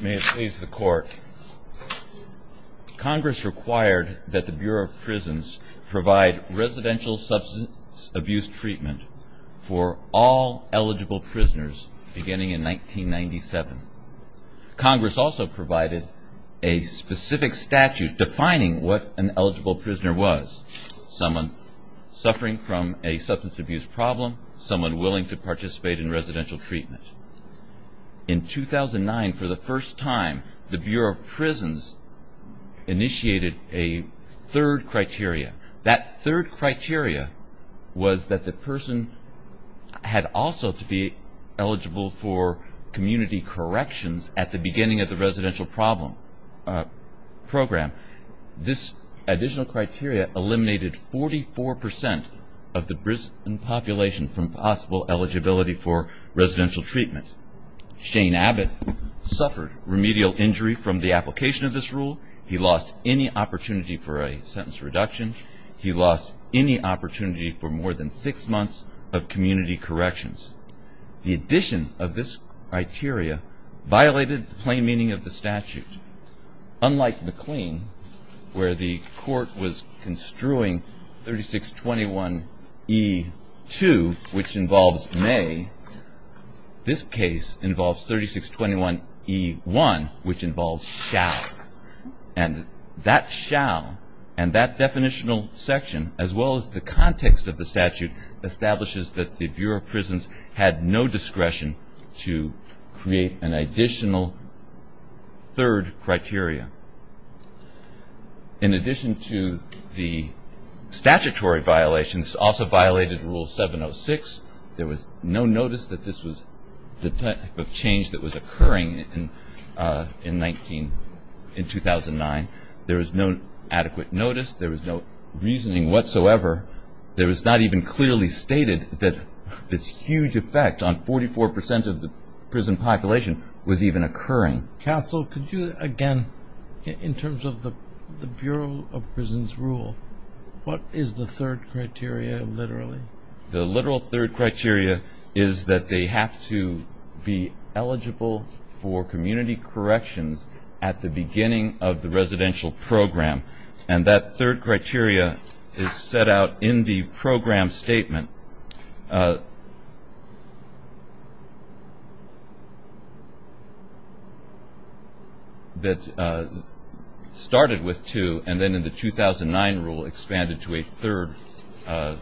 May it please the court. Congress required that the Bureau of Prisons provide residential substance abuse treatment for all eligible prisoners beginning in 1997. Congress also provided a specific statute defining what an eligible prisoner was. Someone suffering from a substance abuse problem, someone willing to participate in residential treatment. In 2009, for the first time, the Bureau of Prisons initiated a third criteria. That third criteria was that the person had also to be eligible for community corrections at the beginning of the residential program. This additional criteria eliminated 44% of the prison population from possible eligibility for residential treatment. Shane Abbott suffered remedial injury from the application of this rule. He lost any opportunity for a sentence reduction. He lost any opportunity for more than six months of community corrections. The addition of this criteria violated the plain meaning of the statute. Unlike McLean, where the court was construing 3621E2, which involves May, this case involves 3621E1, which involves shall. And that shall and that definitional section, as well as the context of the statute, establishes that the Bureau of Prisons violated the third criteria. In addition to the statutory violations, this also violated Rule 706. There was no notice that this was the type of change that was occurring in 2009. There was no adequate notice. There was no reasoning whatsoever. There was not even clearly stated that this huge effect on 44% of in terms of the Bureau of Prisons rule, what is the third criteria literally? The literal third criteria is that they have to be eligible for community corrections at the beginning of the residential program. And that third started with two, and then in the 2009 rule expanded to a third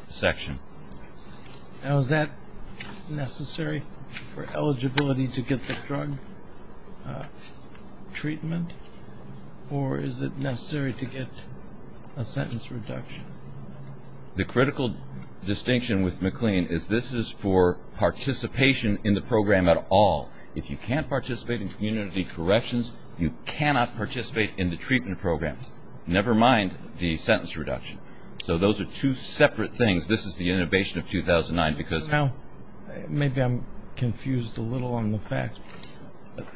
section. And was that necessary for eligibility to get the drug treatment? Or is it necessary to get a sentence reduction? The critical distinction with McLean is this is for participation in the program at all. If you can't participate in community corrections, you cannot participate in the treatment program, never mind the sentence reduction. So those are two separate things. This is the innovation of 2009 because Now, maybe I'm confused a little on the fact.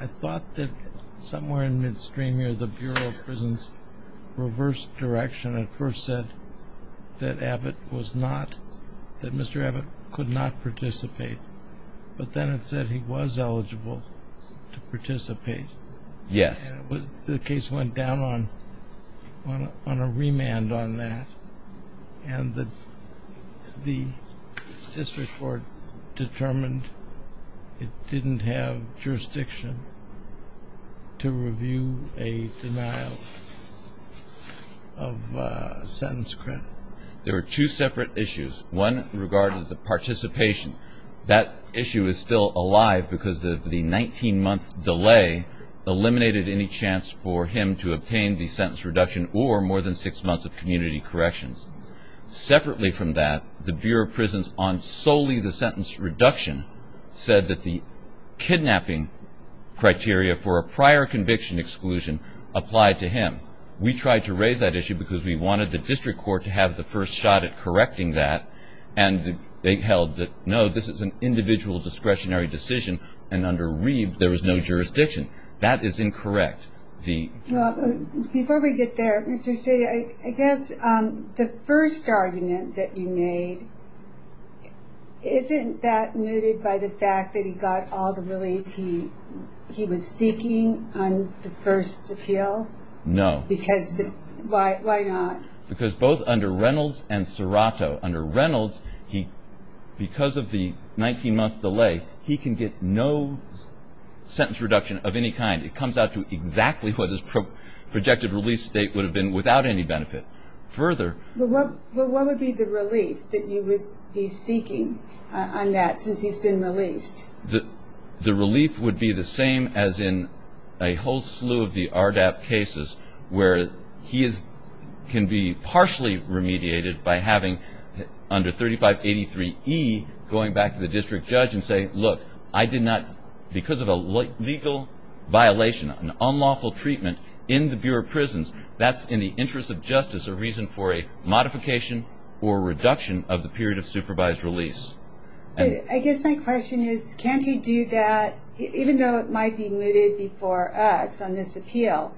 I thought that somewhere in midstream here the Bureau of Prisons reversed direction and first said that was eligible to participate. And the case went down on a remand on that. And the district court determined it didn't have jurisdiction to review a denial of sentence credit. There were two separate issues. One regarding the participation. That issue is still alive because of the 19-month delay eliminated any chance for him to obtain the sentence reduction or more than six months of community corrections. Separately from that, the Bureau of Prisons on solely the sentence reduction said that the kidnapping criteria for a prior conviction exclusion applied to that. And they held that, no, this is an individual discretionary decision. And under Reeve, there was no jurisdiction. That is incorrect. Before we get there, Mr. C, I guess the first argument that you made, isn't that muted by the fact that he got all the relief he was seeking on the first appeal? No. Why not? Because both under Reynolds and Serrato, under Reynolds, because of the 19-month delay, he can get no sentence reduction of any kind. It comes out to exactly what his projected release date would have been without any benefit. Further Well, what would be the relief that you would be seeking on that since he's been released? The relief would be the same as in a whole slew of the RDAP cases where he can be partially remediated by having, under 3583E, going back to the district judge and saying, look, I did not, because of a legal violation, an unlawful treatment in the Bureau of Prisons, that's in the interest of justice a reason for a modification or reduction of the period of supervised release. I guess my question is, can't he do that, even though it might be mooted before us on this appeal?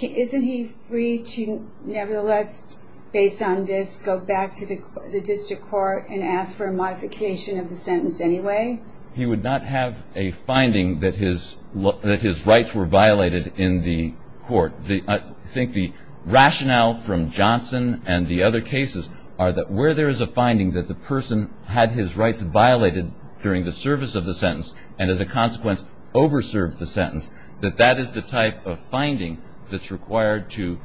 Isn't he free to, nevertheless, based on this, go back to the district court and ask for a modification of the sentence anyway? He would not have a finding that his rights were violated in the court. I think the rationale from Johnson and the other cases are that where there is a finding that the person had his rights violated during the service of the sentence and, as a consequence, over-served the sentence, that that is the type of finding that's required to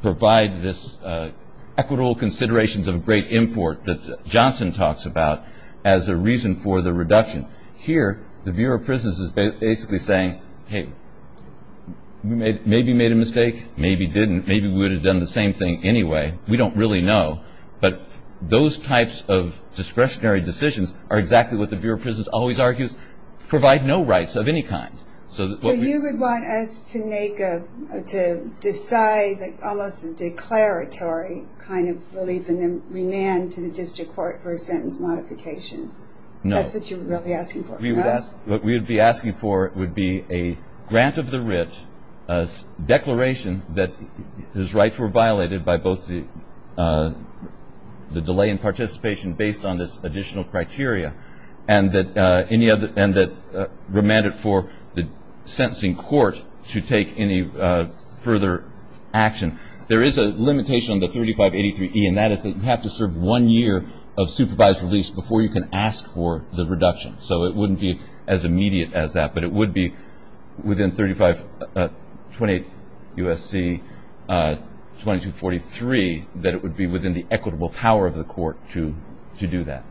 provide this equitable considerations of a great import that Johnson talks about as a reason for the reduction. Here, the Bureau of Prisons is basically saying, hey, we maybe made a mistake, maybe didn't, maybe we would have done the same thing anyway. We don't really know. But those types of discretionary decisions are exactly what the Bureau of Prisons does. They provide no rights of any kind. So you would want us to make a, to decide almost a declaratory kind of relief and then remand to the district court for a sentence modification? No. That's what you're really asking for, no? What we would be asking for would be a grant of the writ, a declaration that his rights were violated by both the delay in participation based on this additional criteria and that remanded for the sentencing court to take any further action. There is a limitation on the 3583E, and that is that you have to serve one year of supervised release before you can ask for the reduction. So it wouldn't be as immediate as that, but it would be within 35, 28 U.S.C., 2243, that it would be within the equitable power of the court to do that.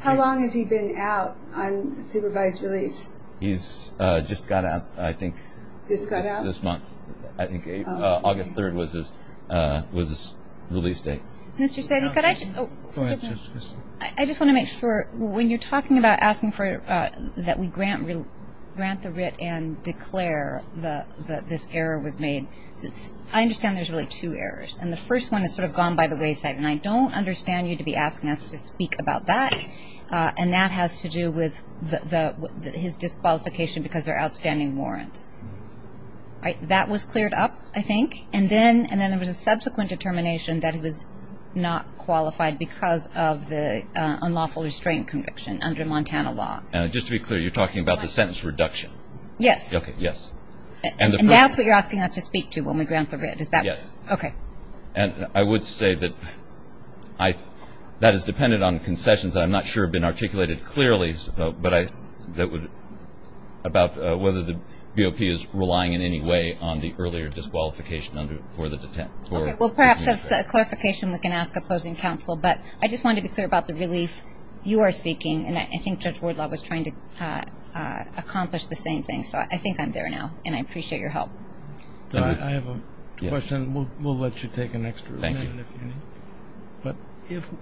How long has he been out on supervised release? He's just got out, I think. Just got out? This month. I think August 3rd was his release day. Mr. Sedgwick, I just want to make sure, when you're talking about asking that we grant the writ and declare that this error was made, I understand there's really two errors. And the first one is sort of gone by the wayside, and I don't know much about that. And that has to do with his disqualification because there are outstanding warrants. That was cleared up, I think, and then there was a subsequent determination that he was not qualified because of the unlawful restraint conviction under Montana law. And just to be clear, you're talking about the sentence reduction? Yes. Okay, yes. And that's what you're asking us to speak to when we grant the writ? Yes. Okay. And I would say that that is dependent on concessions that I'm not sure have been articulated clearly about whether the BOP is relying in any way on the earlier disqualification for the detention. Okay, well, perhaps that's a clarification we can ask opposing counsel. But I just wanted to be clear about the relief you are seeking, and I think Judge Wardlaw was trying to accomplish the same thing. So I think I'm there now, and I appreciate your help. I have a question, and we'll let you take an extra minute if you need. Thank you. But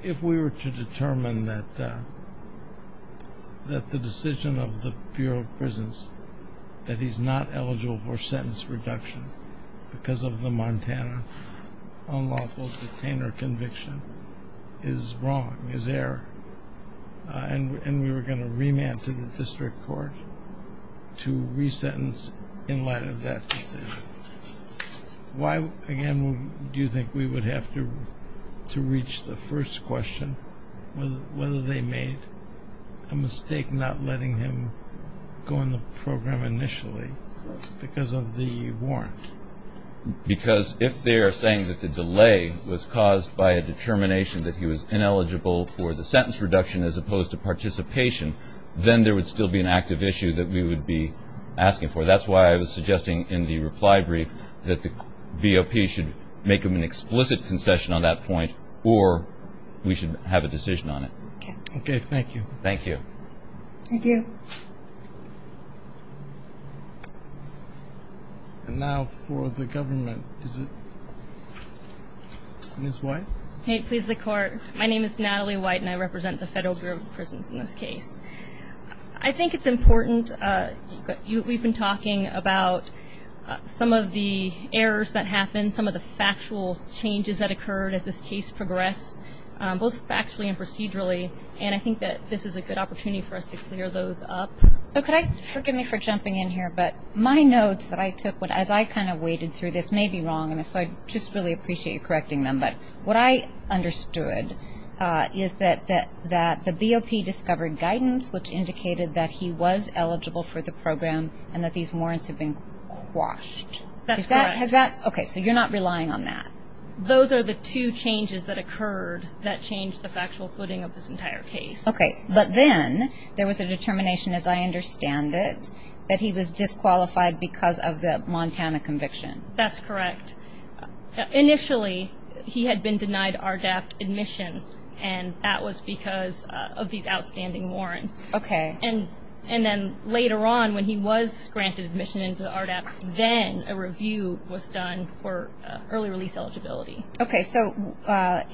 if we were to determine that the decision of the Bureau of Prisons that he's not eligible for sentence reduction because of the Montana unlawful detainer conviction is wrong, is error, and we were going to remand to the Why, again, do you think we would have to reach the first question, whether they made a mistake not letting him go in the program initially because of the warrant? Because if they are saying that the delay was caused by a determination that he was ineligible for the sentence reduction as opposed to participation, then there would still be an active issue that we would be asking for. So that's why I was suggesting in the reply brief that the BOP should make an explicit concession on that point, or we should have a decision on it. Thank you. Thank you. Thank you. And now for the government. Ms. White. Hey, please, the Court. My name is Natalie White, and I represent the Federal Bureau of Prisons in this case. I think it's important. We've been talking about some of the errors that happened, some of the factual changes that occurred as this case progressed, both factually and procedurally, and I think that this is a good opportunity for us to clear those up. So could I – forgive me for jumping in here, but my notes that I took as I kind of waded through this may be wrong, and so I just really appreciate you correcting them, but what I understood is that the BOP discovered guidance which indicated that he was eligible for the program and that these warrants had been quashed. That's correct. Has that – okay, so you're not relying on that. Those are the two changes that occurred that changed the factual footing of this entire case. Okay. But then there was a determination, as I understand it, that he was disqualified because of the Montana conviction. That's correct. Initially, he had been denied RDAP admission, and that was because of these outstanding warrants. Okay. And then later on, when he was granted admission into RDAP, then a review was done for early release eligibility. Okay, so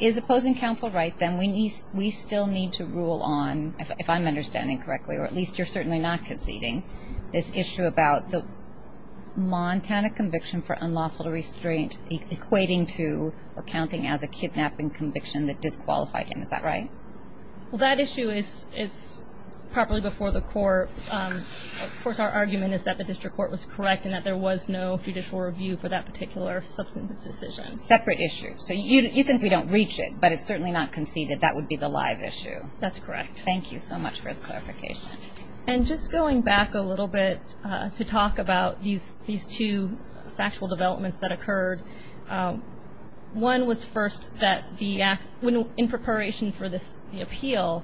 is opposing counsel right then? We still need to rule on, if I'm understanding correctly, or at least you're certainly not conceding, this issue about the Montana conviction for unlawful restraint equating to or counting as a kidnapping conviction that disqualified him. Is that right? Well, that issue is properly before the court. Of course, our argument is that the district court was correct and that there was no judicial review for that particular substantive decision. Separate issue. So you think we don't reach it, but it's certainly not conceded. That would be the live issue. That's correct. Thank you so much for the clarification. And just going back a little bit to talk about these two factual developments that occurred, one was first that in preparation for the appeal,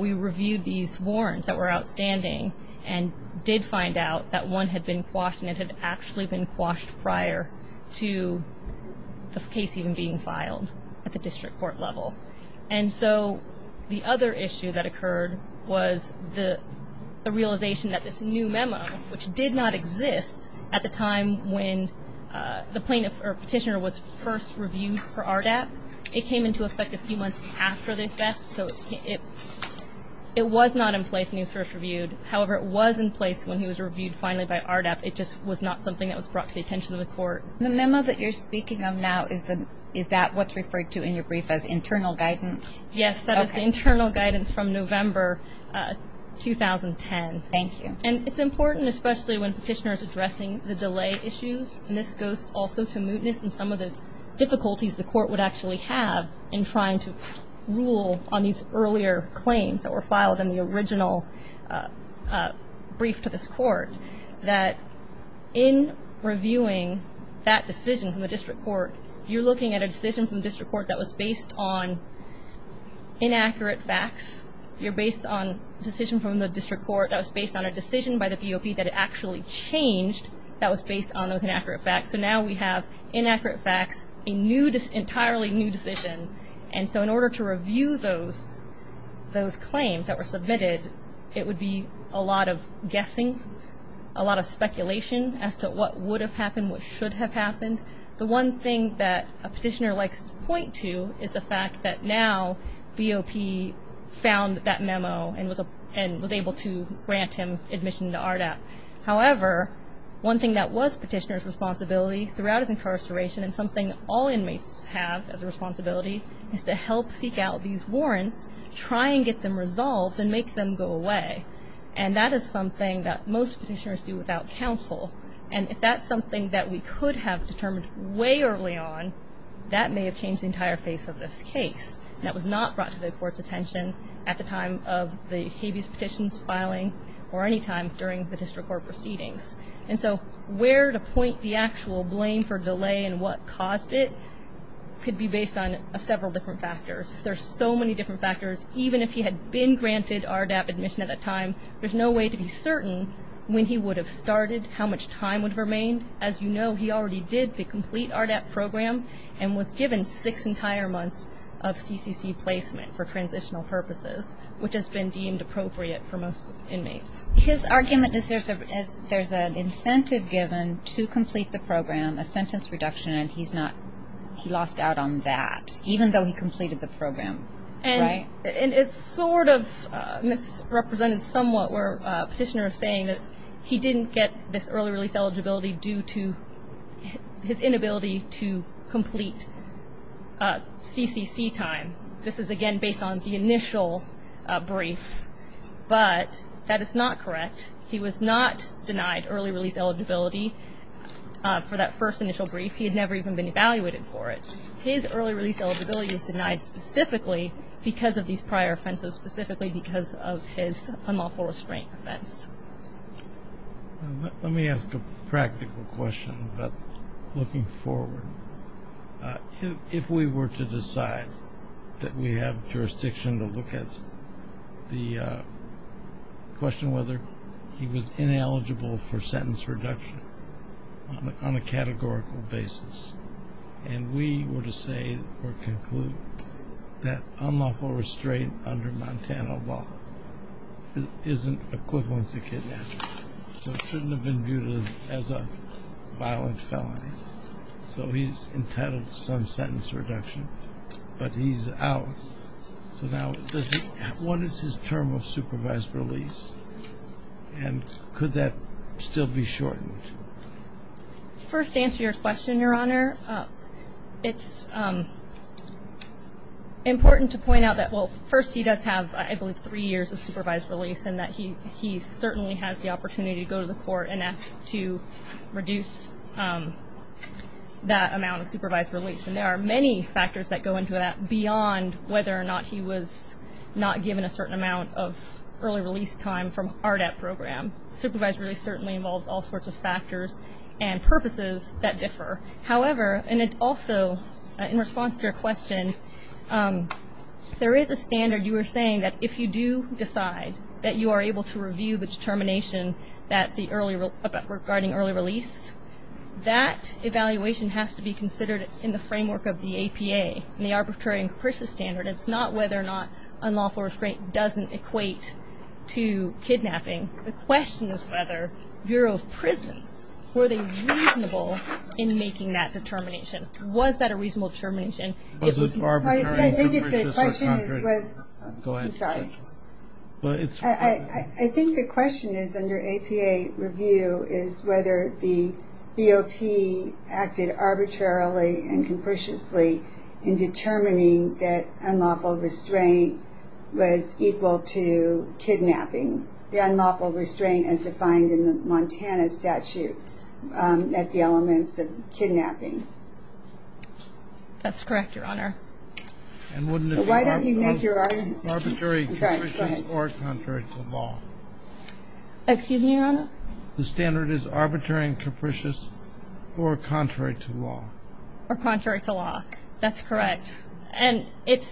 we reviewed these warrants that were outstanding and did find out that one had been quashed and it had actually been quashed prior to the case even being filed at the district court level. And so the other issue that occurred was the realization that this new memo, which did not exist at the time when the petitioner was first reviewed for RDAP, it came into effect a few months after the theft. So it was not in place when he was first reviewed. However, it was in place when he was reviewed finally by RDAP. It just was not something that was brought to the attention of the court. The memo that you're speaking of now, is that what's referred to in your brief as internal guidance? Yes, that is the internal guidance from November 2010. Thank you. And it's important, especially when the petitioner is addressing the delay issues, and this goes also to mootness and some of the difficulties the court would actually have in trying to rule on these earlier claims that were filed in the original brief to this court, that in reviewing that decision from the district court, you're looking at a decision from the district court that was based on inaccurate facts. You're based on a decision from the district court that was based on a decision by the BOP that it actually changed that was based on those inaccurate facts. So now we have inaccurate facts, an entirely new decision. And so in order to review those claims that were submitted, it would be a lot of guessing, a lot of speculation as to what would have happened, what should have happened. The one thing that a petitioner likes to point to is the fact that now BOP found that memo and was able to grant him admission to RDAP. However, one thing that was petitioner's responsibility throughout his incarceration and something all inmates have as a responsibility is to help seek out these warrants, try and get them resolved, and make them go away. And that is something that most petitioners do without counsel. And if that's something that we could have determined way early on, that may have changed the entire face of this case. That was not brought to the court's attention at the time of the habeas petitions filing or any time during the district court proceedings. And so where to point the actual blame for delay and what caused it could be based on several different factors. There are so many different factors. Even if he had been granted RDAP admission at that time, there's no way to be certain when he would have started, how much time would have remained. As you know, he already did the complete RDAP program and was given six entire months of CCC placement for transitional purposes, which has been deemed appropriate for most inmates. His argument is there's an incentive given to complete the program, a sentence reduction, and he lost out on that even though he completed the program. And it's sort of misrepresented somewhat where a petitioner is saying that he didn't get this early release eligibility due to his inability to complete CCC time. This is, again, based on the initial brief. But that is not correct. He was not denied early release eligibility for that first initial brief. He had never even been evaluated for it. His early release eligibility was denied specifically because of these prior offenses, specifically because of his unlawful restraint offense. Let me ask a practical question about looking forward. If we were to decide that we have jurisdiction to look at the question whether he was ineligible for sentence reduction on a categorical basis and we were to say or conclude that unlawful restraint under Montana law isn't equivalent to kidnapping, so it shouldn't have been viewed as a violent felony, so he's entitled to some sentence reduction, but he's out. So now what is his term of supervised release, and could that still be shortened? First, to answer your question, Your Honor, it's important to point out that, well, first, he does have, I believe, three years of supervised release and that he certainly has the opportunity to go to the court and ask to reduce that amount of supervised release. And there are many factors that go into that beyond whether or not he was not given a certain amount of early release time from RDAP program. Supervised release certainly involves all sorts of factors and purposes that differ. However, and also in response to your question, there is a standard you were saying that if you do decide that you are able to review the determination regarding early release, that evaluation has to be considered in the framework of the APA, in the arbitrary and capricious standard. It's not whether or not unlawful restraint doesn't equate to kidnapping. The question is whether Bureau of Prisons, were they reasonable in making that determination? Was that a reasonable determination? I think the question is under APA review is whether the BOP acted arbitrarily and capriciously in determining that unlawful restraint was equal to kidnapping. The unlawful restraint is defined in the Montana statute at the elements of kidnapping. That's correct, Your Honor. And wouldn't it be arbitrary and capricious or contrary to law? Excuse me, Your Honor? The standard is arbitrary and capricious or contrary to law. Or contrary to law. That's correct. And it's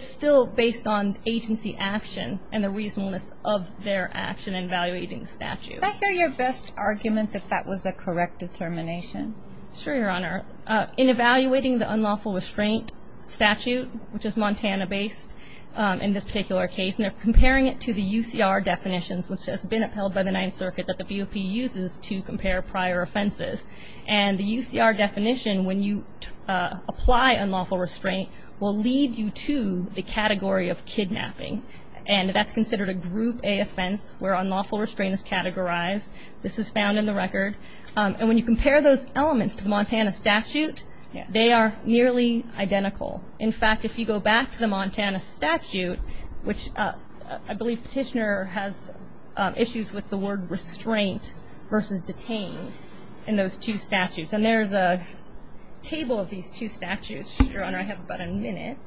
still based on agency action and the reasonableness of their action in evaluating the statute. Is that your best argument, that that was a correct determination? Sure, Your Honor. In evaluating the unlawful restraint statute, which is Montana-based in this particular case, and they're comparing it to the UCR definitions, which has been upheld by the Ninth Circuit that the BOP uses to compare prior offenses. And the UCR definition, when you apply unlawful restraint, will lead you to the category of kidnapping. And that's considered a group A offense where unlawful restraint is categorized. This is found in the record. And when you compare those elements to the Montana statute, they are nearly identical. In fact, if you go back to the Montana statute, which I believe Petitioner has issues with the word restraint versus detains in those two statutes. And there's a table of these two statutes. Your Honor, I have about a minute.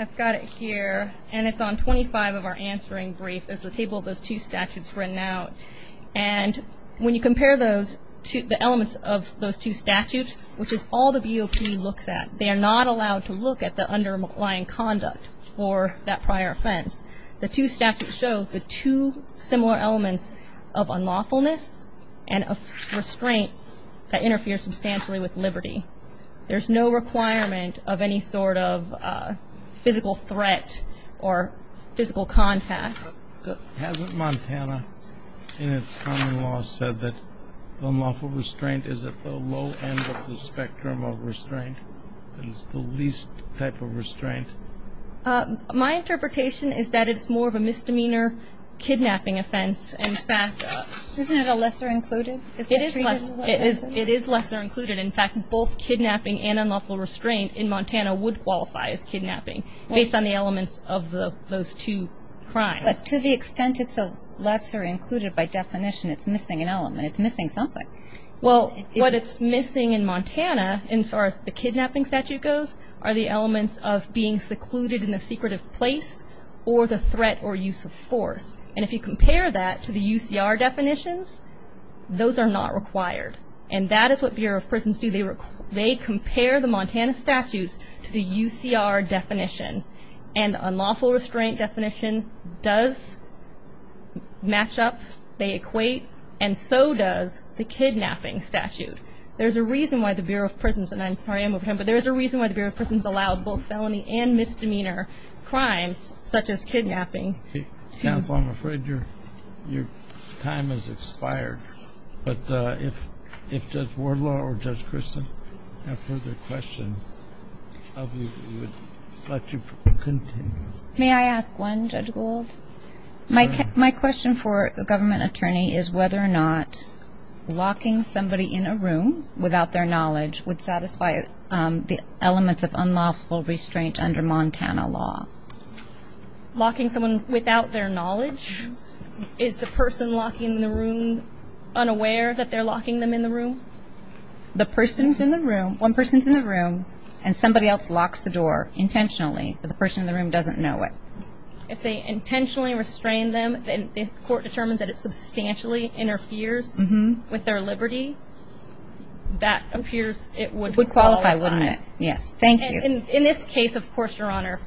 I've got it here. And it's on 25 of our answering brief. There's a table of those two statutes written out. And when you compare the elements of those two statutes, which is all the BOP looks at, they are not allowed to look at the underlying conduct for that prior offense. The two statutes show the two similar elements of unlawfulness and of restraint that interfere substantially with liberty. There's no requirement of any sort of physical threat or physical contact. Hasn't Montana in its common law said that unlawful restraint is at the low end of the spectrum of restraint, that it's the least type of restraint? My interpretation is that it's more of a misdemeanor kidnapping offense. Isn't it a lesser included? It is lesser included. In fact, both kidnapping and unlawful restraint in Montana would qualify as kidnapping based on the elements of those two crimes. But to the extent it's a lesser included by definition, it's missing an element. It's missing something. Well, what it's missing in Montana, as far as the kidnapping statute goes, are the elements of being secluded in a secretive place or the threat or use of force. And if you compare that to the UCR definitions, those are not required. And that is what Bureau of Prisons do. They compare the Montana statutes to the UCR definition. And unlawful restraint definition does match up. They equate. And so does the kidnapping statute. There's a reason why the Bureau of Prisons allowed both felony and misdemeanor crimes such as kidnapping. Counsel, I'm afraid your time has expired. But if Judge Wardlaw or Judge Christin have further questions, I would let you continue. May I ask one, Judge Gould? My question for a government attorney is whether or not locking somebody in a room without their knowledge would satisfy the elements of unlawful restraint under Montana law. Locking someone without their knowledge? Is the person locking them in the room unaware that they're locking them in the room? The person's in the room, one person's in the room, and somebody else locks the door intentionally, but the person in the room doesn't know it. If they intentionally restrain them and the court determines that it substantially interferes with their liberty, that appears it would qualify. It would qualify, wouldn't it? Yes. Thank you. In this case, of course, Your Honor,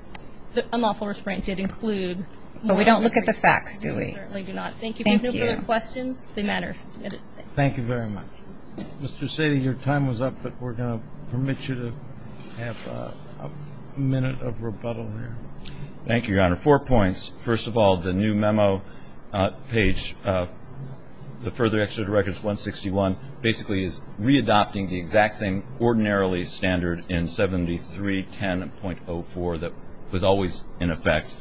the unlawful restraint did include. But we don't look at the facts, do we? We certainly do not. Thank you. If you have no further questions, they matter. Thank you very much. Mr. Satie, your time was up, but we're going to permit you to have a minute of rebuttal here. Thank you, Your Honor. Four points. First of all, the new memo page, the Further Exeter to Records 161, basically is readopting the exact same ordinarily standard in 7310.04 that was always in effect.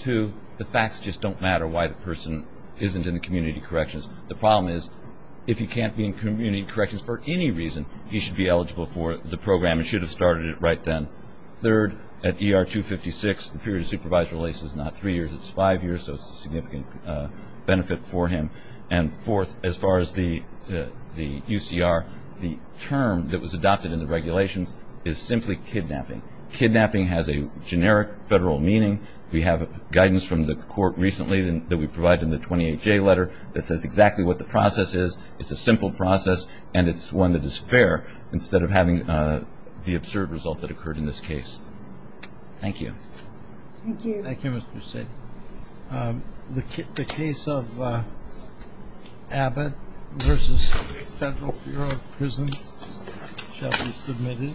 Two, the facts just don't matter why the person isn't in the community corrections. The problem is if he can't be in community corrections for any reason, he should be eligible for the program and should have started it right then. Third, at ER 256, the period of supervised release is not three years, it's five years, so it's a significant benefit for him. And fourth, as far as the UCR, the term that was adopted in the regulations is simply kidnapping. Kidnapping has a generic federal meaning. We have guidance from the court recently that we provide in the 28J letter that says exactly what the process is. It's a simple process, and it's one that is fair instead of having the absurd result that occurred in this case. Thank you. Thank you. Thank you, Mr. Satie. The case of Abbott v. Federal Bureau of Prisons shall be submitted.